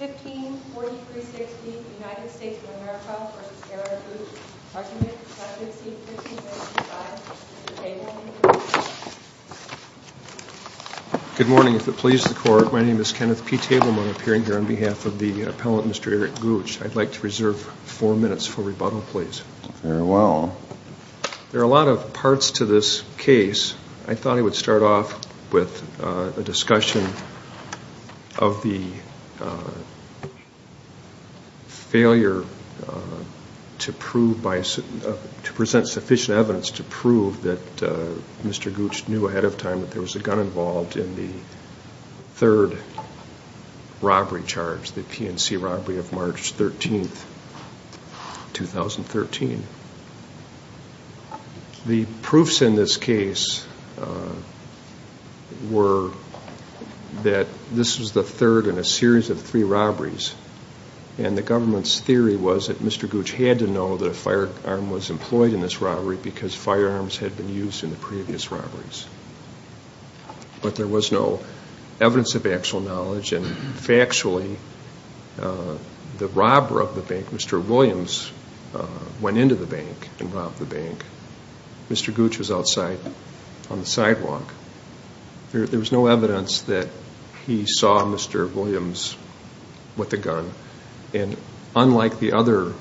Good morning. If it pleases the court, my name is Kenneth P. Tableman. I'm appearing here on behalf of the appellant, Mr. Eric Gooch. I'd like to reserve four minutes for rebuttal, please. Very well. There are a lot of parts to this case. I thought I would start off with a discussion of the failure to present sufficient evidence to prove that Mr. Gooch knew ahead of time that there was a gun involved in the third robbery charge, the PNC robbery of March 13, 2013. The proofs in this case were that this was the third in a series of three robberies, and the government's theory was that Mr. Gooch had to know that a firearm was employed in this robbery because firearms had been used in the previous robberies. But there was no evidence of actual knowledge, and factually, the robber of the bank, Mr. Williams, went into the bank and robbed the bank. Mr. Gooch was outside on the sidewalk. There was no evidence that he saw Mr. Williams with a gun. And unlike the other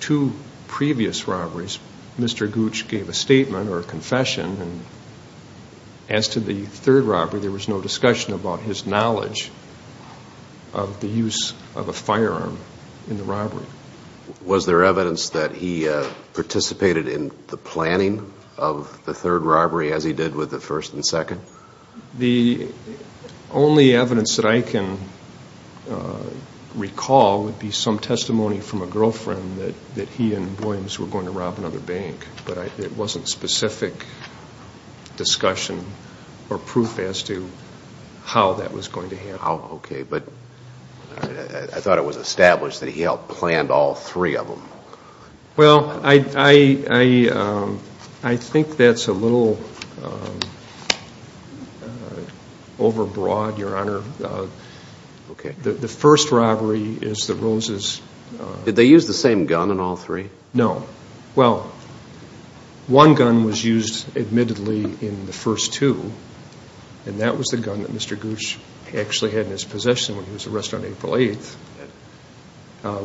two previous robberies, Mr. Gooch gave a statement or a confession. As to the third robbery, there was no discussion about his knowledge of the use of a firearm in the robbery. Was there evidence that he participated in the planning of the third robbery as he did with the first and second? The only evidence that I can recall would be some testimony from a girlfriend that he and her were trying to rob another bank, but it wasn't specific discussion or proof as to how that was going to happen. Okay, but I thought it was established that he helped plan all three of them. Well, I think that's a little overbroad, Your Honor. The first robbery is the Rose's... Did they use the same gun in all three? No. Well, one gun was used, admittedly, in the first two, and that was the gun that Mr. Gooch actually had in his possession when he was arrested on April 8th.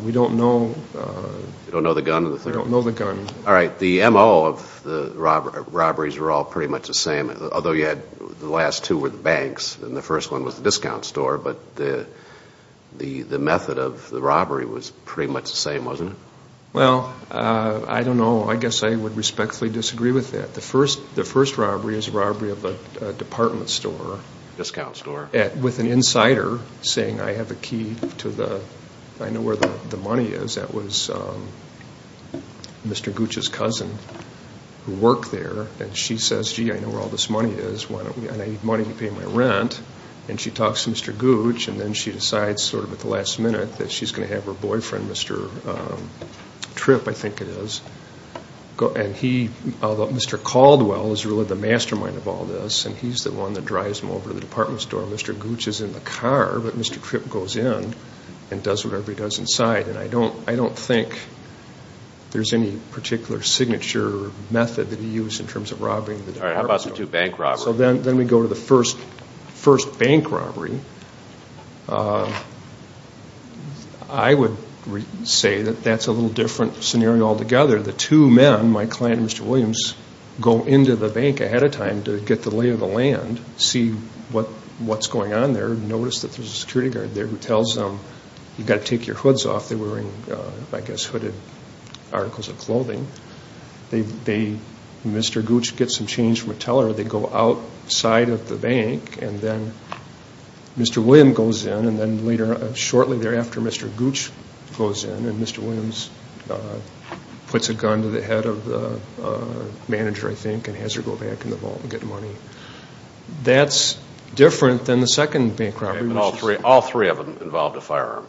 We don't know... You don't know the gun? We don't know the gun. All right. The M.O. of the robberies were all pretty much the same, although the last two were the banks and the first one was the discount store, but the method of the robbery was pretty much the same, wasn't it? Well, I don't know. I guess I would respectfully disagree with that. The first robbery is a robbery of a department store... Discount store. ...with an insider saying, I have a key to the... I know where the money is. That was Mr. Gooch's cousin who worked there, and she says, gee, I know where all this money is. I need money to pay my rent. And she talks to Mr. Gooch, and then she decides sort of at the last minute that she's going to have her boyfriend, Mr. Tripp, I think it is, and he... Mr. Caldwell is really the mastermind of all this, and he's the one that drives him over to the department store. Mr. Gooch is in the car, but Mr. Tripp goes in and does whatever he does inside, and I don't think there's any particular signature method that he used in terms of robbing the department store. All right. How about the two bank robberies? So then we go to the first bank robbery. I would say that that's a little different scenario altogether. The two men, my client and Mr. Williams, go into the bank ahead of time to get the lay of the land, see what's going on there, notice that there's a security guard there who tells them, you've got to take your hoods off. They were wearing, I guess, hooded articles of clothing. They... Mr. Gooch gets some change from a teller. They go outside of the bank, and then Mr. Williams goes in, and then later, shortly thereafter, Mr. Gooch goes in, and Mr. Williams puts a gun to the head of the manager, I think, and has her go back in the vault and get money. That's different than the second bank robbery, which... All three of them involved a firearm.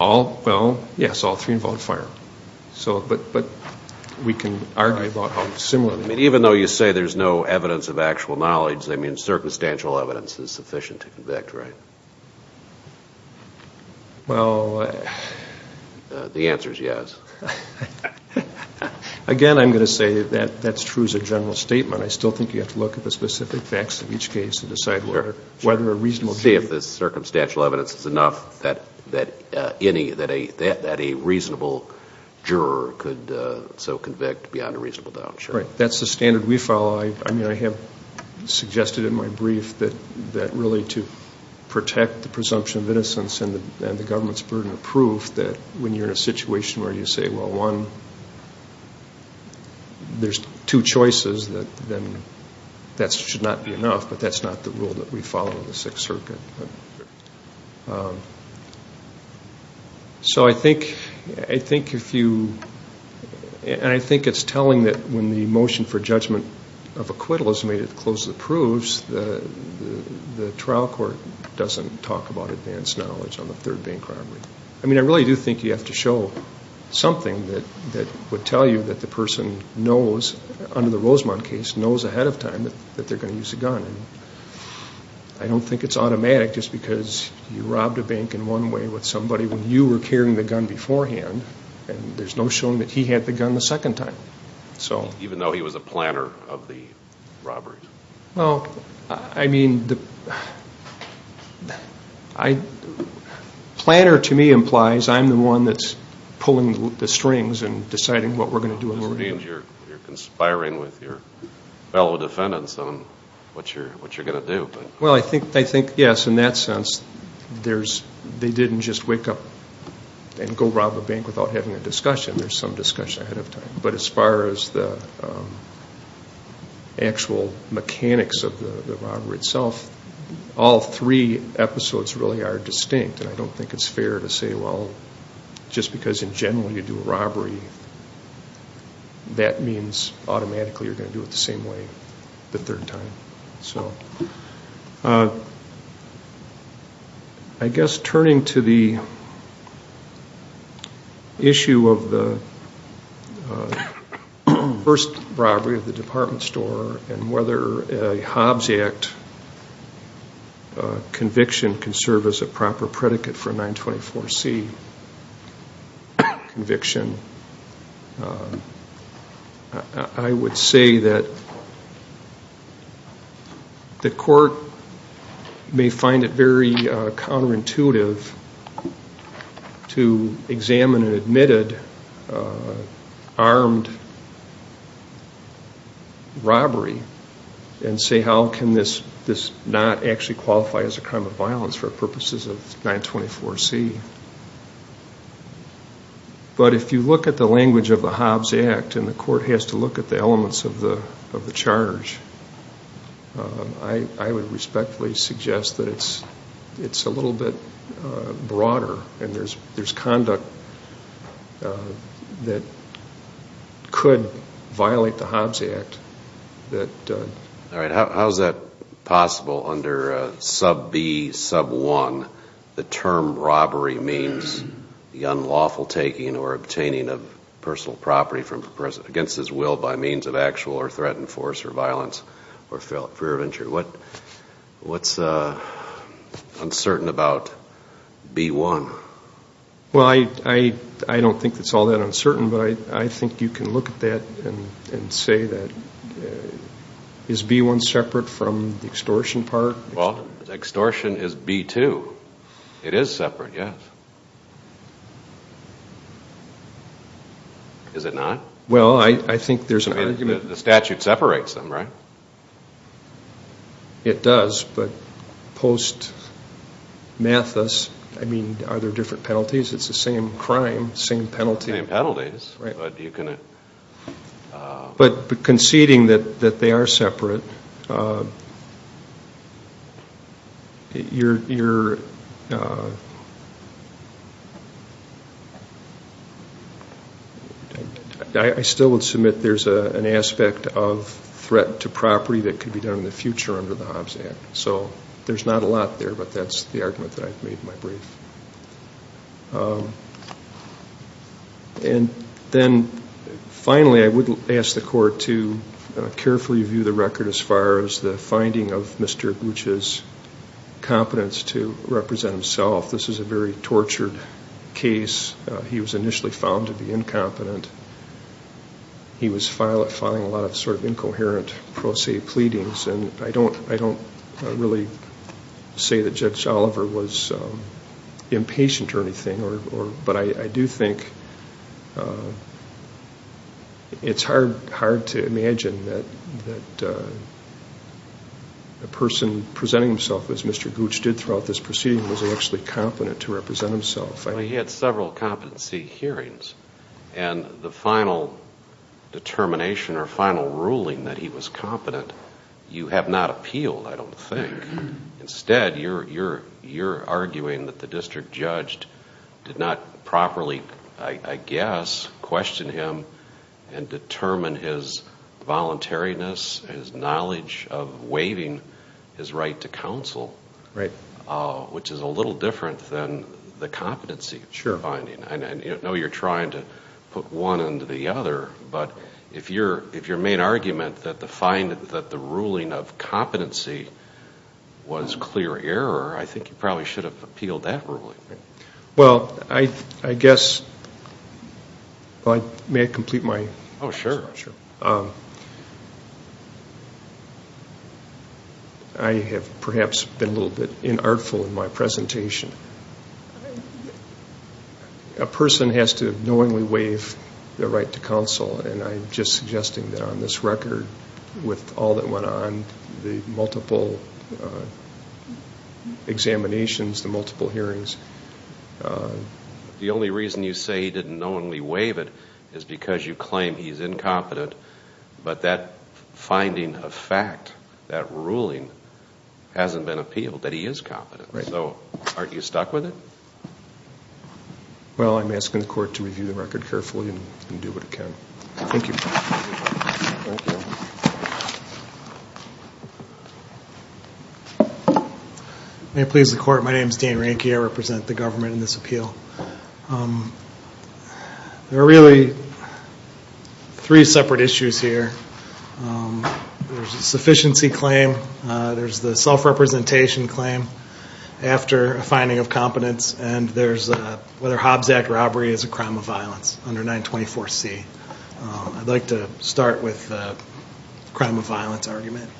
All? Well, yes, all three involved a firearm. So, but we can argue about how similar... I mean, even though you say there's no evidence of actual knowledge, I mean, circumstantial evidence is sufficient to convict, right? Well... The answer is yes. Again, I'm going to say that that's true as a general statement. I still think you have to look at the specific facts of each case and decide whether a reasonable... See if the circumstantial evidence is enough that a reasonable juror could so convict beyond a reasonable doubt. Right. That's the standard we follow. I mean, I have suggested in my brief that really to protect the presumption of innocence and the government's burden of proof that when you're in a situation where you say, well, one, there's two choices, then that should not be enough, but that's not the rule that we follow in the Sixth Circuit. So I think if you... And I think it's telling that when the motion for judgment of acquittal is made to close the proofs, the trial court doesn't talk about advanced knowledge on the third bank robbery. I mean, I really do think you have to show something that would tell you that the person knows, under the Rosemont case, knows ahead of time. It's problematic just because you robbed a bank in one way with somebody when you were carrying the gun beforehand, and there's no showing that he had the gun the second time. Even though he was a planner of the robberies? Well, I mean, planner to me implies I'm the one that's pulling the strings and deciding what we're going to do and what we're not going to do. This means you're conspiring with your fellow defendants on what you're going to do. Well, I think, yes, in that sense, they didn't just wake up and go rob a bank without having a discussion. There's some discussion ahead of time. But as far as the actual mechanics of the robbery itself, all three episodes really are distinct, and I don't think it's fair to say, well, just because in general you do a robbery, that means automatically you're going to do it the same way the third time. So I guess turning to the issue of the first robbery at the department store and whether a Hobbs Act conviction can say that the court may find it very counterintuitive to examine an admitted armed robbery and say how can this not actually qualify as a crime of violence for purposes of 924C. But if you look at the language of the Hobbs Act and the court has to look at the elements of the charge, I would respectfully suggest that it's a little bit broader and there's conduct that could violate the Hobbs Act. How is that possible under sub B, sub 1, the term robbery means the unlawful taking or obtaining of personal property against his will by means of actual or threatened force or violence or fear of injury. What's uncertain about B1? Well, I don't think it's all that uncertain, but I think you can look at that and say that, is B1 separate from the extortion part? Well, extortion is B2. It is separate, yes. Is it not? Well, I think there's an argument. The statute separates them, right? It does, but post mathis, I mean, are there different penalties? It's the same crime, same penalty. Same penalties, but you can... property that could be done in the future under the Hobbs Act. So there's not a lot there, but that's the argument that I've made in my brief. And then finally, I would ask the court to carefully view the record as far as the finding of Mr. Boucher's competence to represent himself. This is a very tortured case. He was initially found to be incompetent. He was filing a lot of sort of incoherent pro se pleadings, and I don't really say that Judge Oliver was impatient or anything, but I do think it's hard to imagine that the person presenting himself as Mr. Boucher and what he did throughout this proceeding was actually competent to represent himself. Well, he had several competency hearings, and the final determination or final ruling that he was competent, you have not appealed, I don't think. Instead, you're arguing that the district judge did not properly, I guess, question him and determine his voluntariness, his knowledge of waiving his right to counsel. Right. Which is a little different than the competency finding. Sure. I know you're trying to put one into the other, but if your main argument that the ruling of competency was clear error, I think you probably should have appealed that ruling. Well, I guess, may I complete my? Oh, sure. I have perhaps been a little bit inartful in my presentation. A person has to knowingly waive their right to counsel, and I'm just suggesting that on this record, with all that went on, the multiple examinations, the multiple hearings. The only reason you say he didn't knowingly waive it is because you claim he's incompetent, but that finding of fact, that ruling, hasn't been appealed, that he is competent. Right. So, aren't you stuck with it? Well, I'm asking the court to review the record carefully and do what it can. Thank you. Thank you. May it please the court, my name is Dean Ranky. I represent the government in this appeal. There are really three separate issues here. There's a sufficiency claim, there's the self-representation claim after a finding of competence, and there's whether Hobbs Act robbery is a crime of violence under 924C. I'd like to start with the crime of violence argument.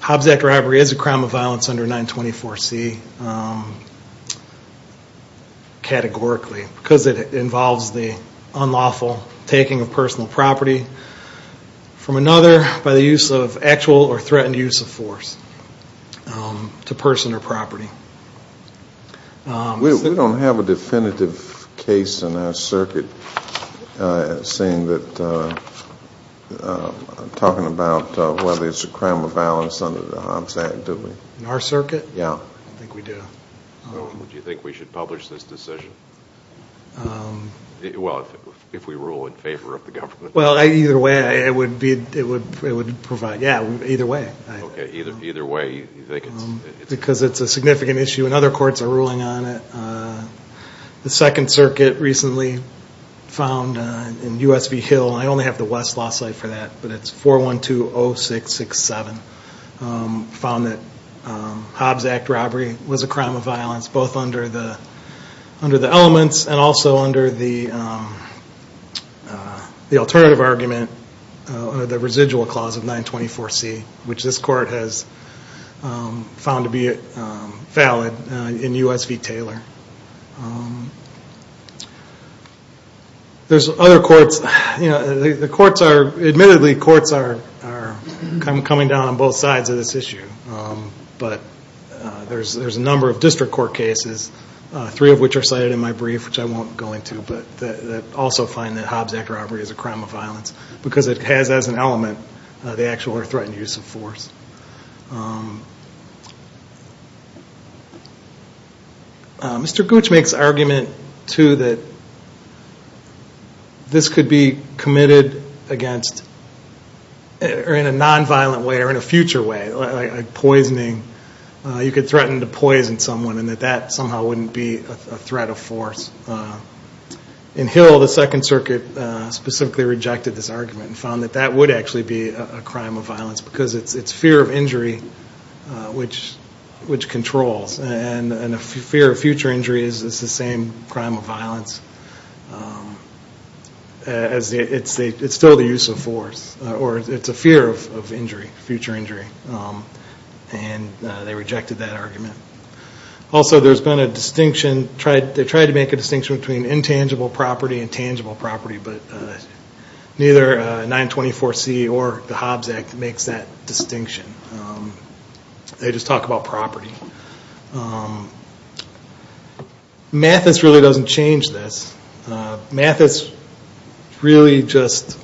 Hobbs Act robbery is a crime of violence under 924C, categorically, because it involves the unlawful taking of personal property from another by the use of actual or threatened use of force to person or property. We don't have a definitive case in our circuit saying that, talking about whether it's a crime of violence under the Hobbs Act, do we? In our circuit? Yeah. I think we do. Do you think we should publish this decision? Well, if we rule in favor of the government. Well, either way, it would provide, yeah, either way. Okay, either way, you think it's. Because it's a significant issue and other courts are ruling on it. The Second Circuit recently found in USV Hill, and I only have the West Law site for that, but it's 4120667, found that Hobbs Act robbery was a crime of violence both under the elements and also under the alternative argument, the residual clause of 924C, which this court has found to be valid in USV Taylor. There's other courts. Admittedly, courts are coming down on both sides of this issue, but there's a number of district court cases, three of which are cited in my brief, which I won't go into, but that also find that Hobbs Act robbery is a crime of violence because it has, as an element, the actual or threatened use of force. Mr. Gooch makes argument, too, that this could be committed against, or in a nonviolent way or in a future way, like poisoning. You could threaten to poison someone and that that somehow wouldn't be a threat of force. In Hill, the Second Circuit specifically rejected this argument and found that that would actually be a crime of violence because it's fear of injury which controls, and a fear of future injury is the same crime of violence as it's still the use of force, or it's a fear of injury, future injury, and they rejected that argument. Also, there's been a distinction, they tried to make a distinction between intangible property and tangible property, but neither 924C or the Hobbs Act makes that distinction. They just talk about property. Mathis really doesn't change this. Mathis really just,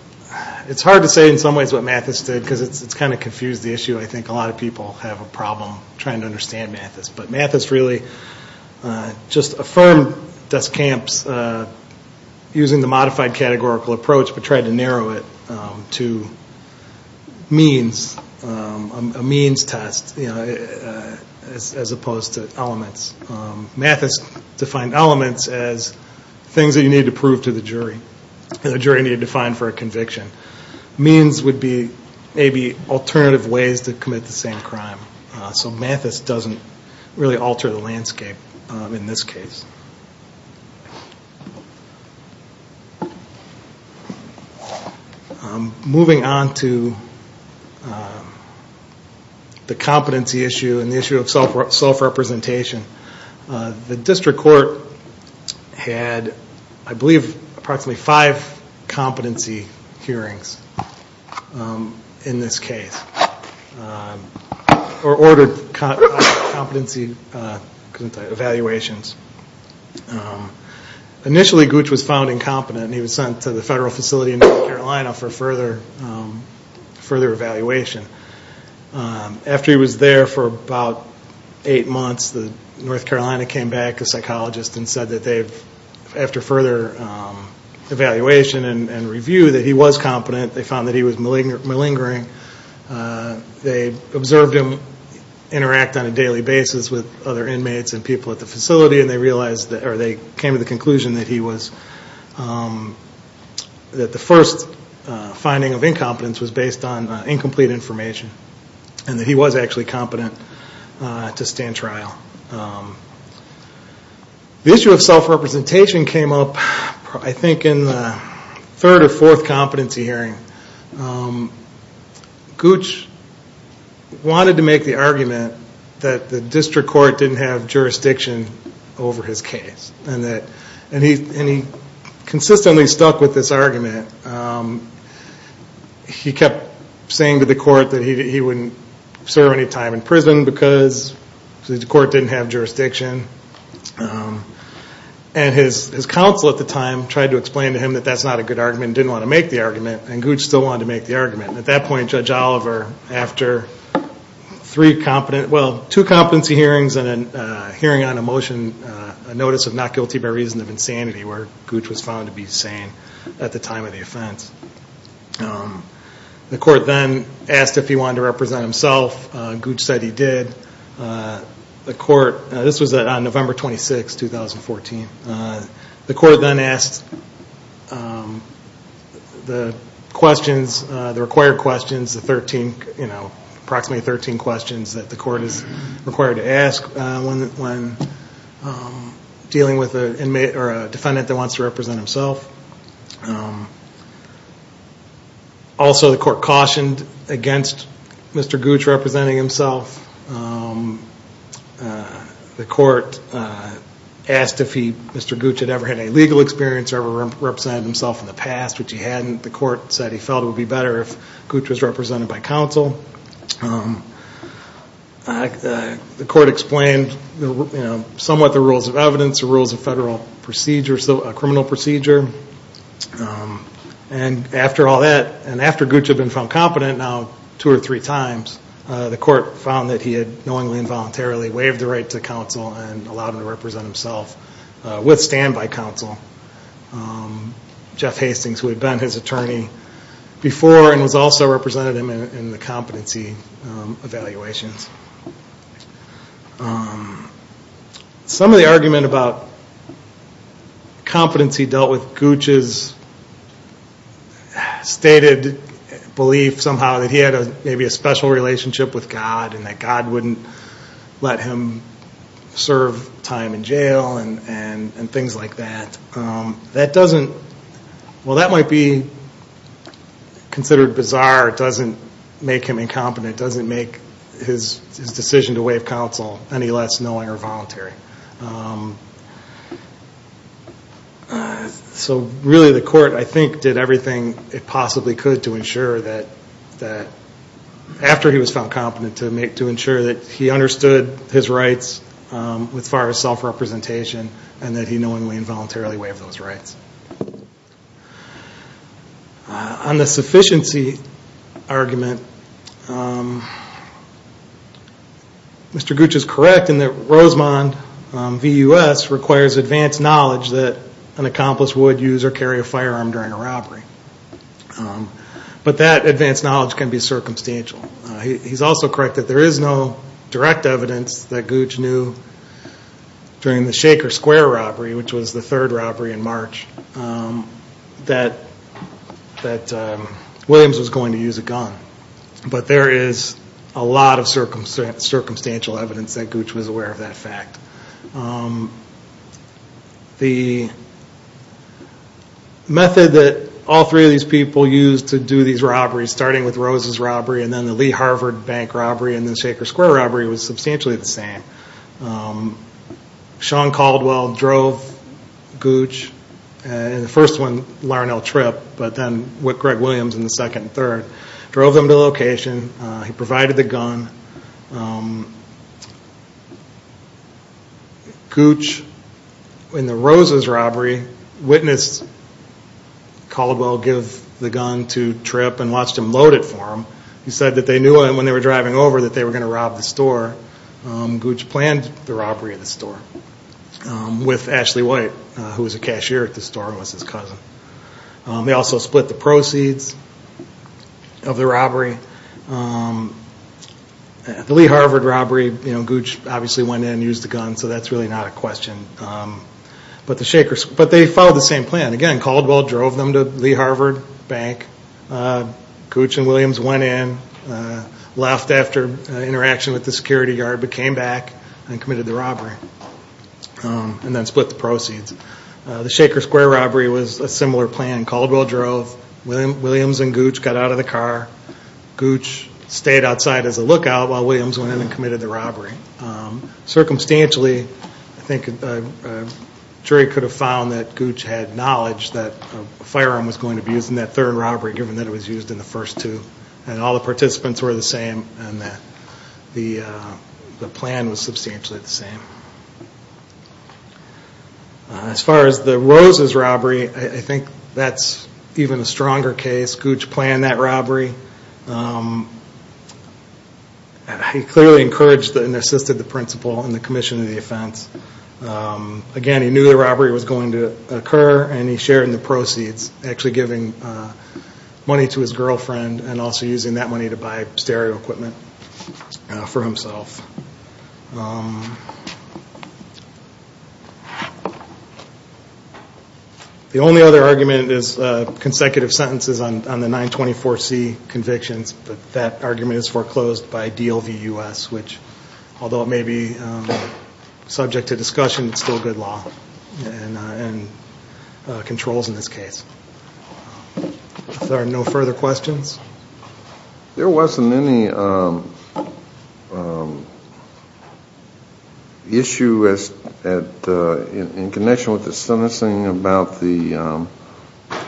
it's hard to say in some ways what Mathis did because it's kind of confused the issue. I think a lot of people have a problem trying to understand Mathis, but Mathis really just affirmed Duskamp's using the modified categorical approach but tried to narrow it to means, a means test as opposed to elements. Mathis defined elements as things that you need to prove to the jury, that a jury needed to find for a conviction. Means would be maybe alternative ways to commit the same crime. So Mathis doesn't really alter the landscape in this case. Moving on to the competency issue and the issue of self-representation. The district court had, I believe, approximately five competency hearings in this case, or ordered competency evaluations. Initially, Gooch was found incompetent and he was sent to the federal facility in North Carolina for further evaluation. After he was there for about eight months, North Carolina came back, a psychologist, and said that after further evaluation and review that he was competent. They found that he was malingering. They observed him interact on a daily basis with other inmates and people at the facility. They came to the conclusion that the first finding of incompetence was based on incomplete information and that he was actually competent to stand trial. The issue of self-representation came up, I think, in the third or fourth competency hearing. Gooch wanted to make the argument that the district court didn't have jurisdiction over his case. He consistently stuck with this argument. He kept saying to the court that he wouldn't serve any time in prison because the court didn't have jurisdiction. His counsel at the time tried to explain to him that that's not a good argument and didn't want to make the argument. Gooch still wanted to make the argument. At that point, Judge Oliver, after two competency hearings and a hearing on a motion, a notice of not guilty by reason of insanity, where Gooch was found to be sane at the time of the offense. The court then asked if he wanted to represent himself. Gooch said he did. This was on November 26, 2014. The court then asked the required questions, approximately 13 questions that the court is required to ask when dealing with a defendant that wants to represent himself. Also, the court cautioned against Mr. Gooch representing himself. The court asked if Mr. Gooch had ever had a legal experience or ever represented himself in the past, which he hadn't. The court said he felt it would be better if Gooch was represented by counsel. The court explained somewhat the rules of evidence, the rules of federal procedure, criminal procedure. After all that, and after Gooch had been found competent now two or three times, the court found that he had knowingly and voluntarily waived the right to counsel and allowed him to represent himself with standby counsel, Jeff Hastings, who had been his attorney before and was also representative in the competency evaluations. Some of the argument about competency dealt with Gooch's stated belief somehow that he had maybe a special relationship with God and that God wouldn't let him serve time in jail and things like that. Well, that might be considered bizarre. It doesn't make him incompetent. It doesn't make his decision to waive counsel any less knowing or voluntary. So really, the court, I think, did everything it possibly could to ensure that after he was found competent, to ensure that he understood his rights as far as self-representation and that he knowingly and voluntarily waived those rights. On the sufficiency argument, Mr. Gooch is correct in that Rosemond v. U.S. requires advanced knowledge that an accomplice would use or carry a firearm during a robbery. But that advanced knowledge can be circumstantial. He's also correct that there is no direct evidence that Gooch knew during the Shaker Square robbery, which was the third robbery in March, that Williams was going to use a gun. But there is a lot of circumstantial evidence that Gooch was aware of that fact. The method that all three of these people used to do these robberies, starting with Rose's robbery, and then the Lee Harvard Bank robbery, and then the Shaker Square robbery was substantially the same. Sean Caldwell drove Gooch, and the first one, Larnell Tripp, but then Greg Williams in the second and third, drove them to location. He provided the gun. Gooch, in the Rose's robbery, witnessed Caldwell give the gun to Tripp and watched him load it for him. He said that they knew when they were driving over that they were going to rob the store. Gooch planned the robbery of the store with Ashley White, who was a cashier at the store and was his cousin. They also split the proceeds of the robbery. The Lee Harvard robbery, Gooch obviously went in and used the gun, so that's really not a question. But they followed the same plan. Again, Caldwell drove them to Lee Harvard Bank. Gooch and Williams went in, left after interaction with the security guard, but came back and committed the robbery and then split the proceeds. The Shaker Square robbery was a similar plan. Caldwell drove, Williams and Gooch got out of the car, Gooch stayed outside as a lookout while Williams went in and committed the robbery. Circumstantially, I think a jury could have found that Gooch had knowledge that a firearm was going to be used in that third robbery, given that it was used in the first two, and all the participants were the same, and that the plan was substantially the same. As far as the Roses robbery, I think that's even a stronger case. Gooch planned that robbery. He clearly encouraged and assisted the principal and the commission of the offense. Again, he knew the robbery was going to occur and he shared in the proceeds, actually giving money to his girlfriend and also using that money to buy stereo equipment for himself. The only other argument is consecutive sentences on the 924C convictions, but that argument is foreclosed by DLV-US, which, although it may be subject to discussion, is still good law and controls in this case. Are there no further questions? There wasn't any issue in connection with the sentencing about the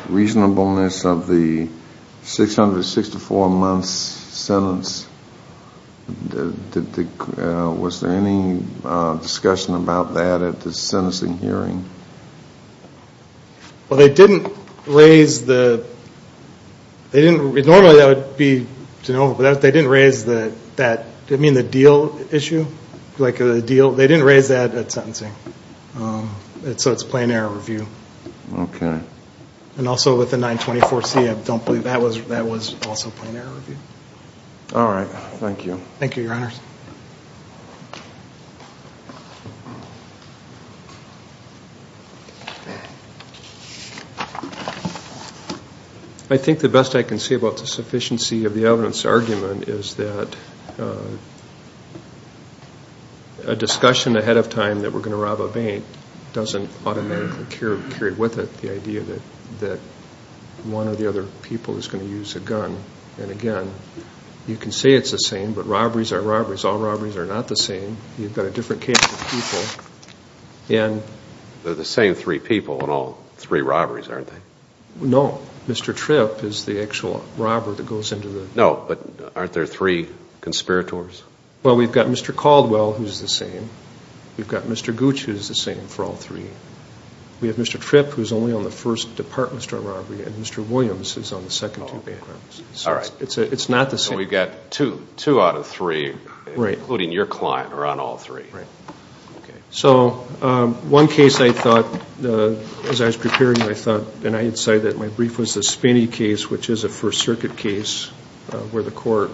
reasonableness of the 664-month sentence. Was there any discussion about that at the sentencing hearing? Well, they didn't raise the deal issue at sentencing, so it's plain error review. Okay. And also with the 924C, I don't believe that was also plain error review. All right. Thank you. Thank you, Your Honors. I think the best I can say about the sufficiency of the evidence argument is that a discussion ahead of time that we're going to rob a bank doesn't automatically carry with it the idea that one or the other people is going to use a gun. And, again, you can say it's the same, but robberies are robberies. All robberies are not the same. You've got a different case of people. They're the same three people in all three robberies, aren't they? No. Mr. Tripp is the actual robber that goes into the… No, but aren't there three conspirators? Well, we've got Mr. Caldwell, who's the same. We've got Mr. Gooch, who's the same for all three. We have Mr. Tripp, who's only on the first department store robbery, and Mr. Williams is on the second two bank robberies. All right. So it's not the same. So we've got two out of three, including your client, are on all three. Right. Okay. So one case I thought, as I was preparing, I thought, and I had said that my brief was the Spinney case, which is a First Circuit case where the court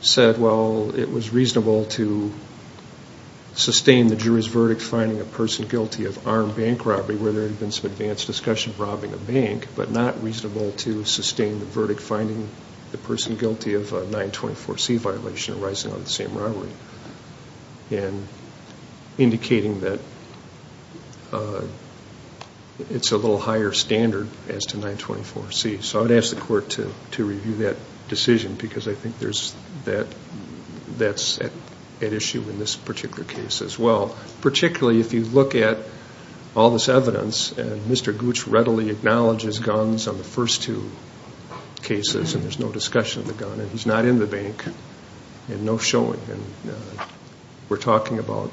said, well, it was reasonable to sustain the jury's verdict finding a person guilty of armed bank robbery where there had been some advanced discussion of robbing a bank, but not reasonable to sustain the verdict finding the person guilty of a 924C violation arising out of the same robbery and indicating that it's a little higher standard as to 924C. So I would ask the court to review that decision because I think that's at issue in this particular case as well, particularly if you look at all this evidence and Mr. Gooch readily acknowledges guns on the first two cases and there's no discussion of the gun and he's not in the bank and no showing. And we're talking about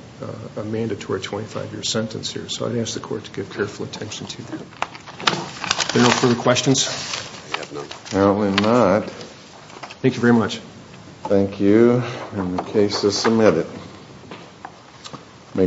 a mandatory 25-year sentence here. So I'd ask the court to give careful attention to that. Are there no further questions? Apparently not. Thank you very much. Thank you. And the case is submitted. Thank you.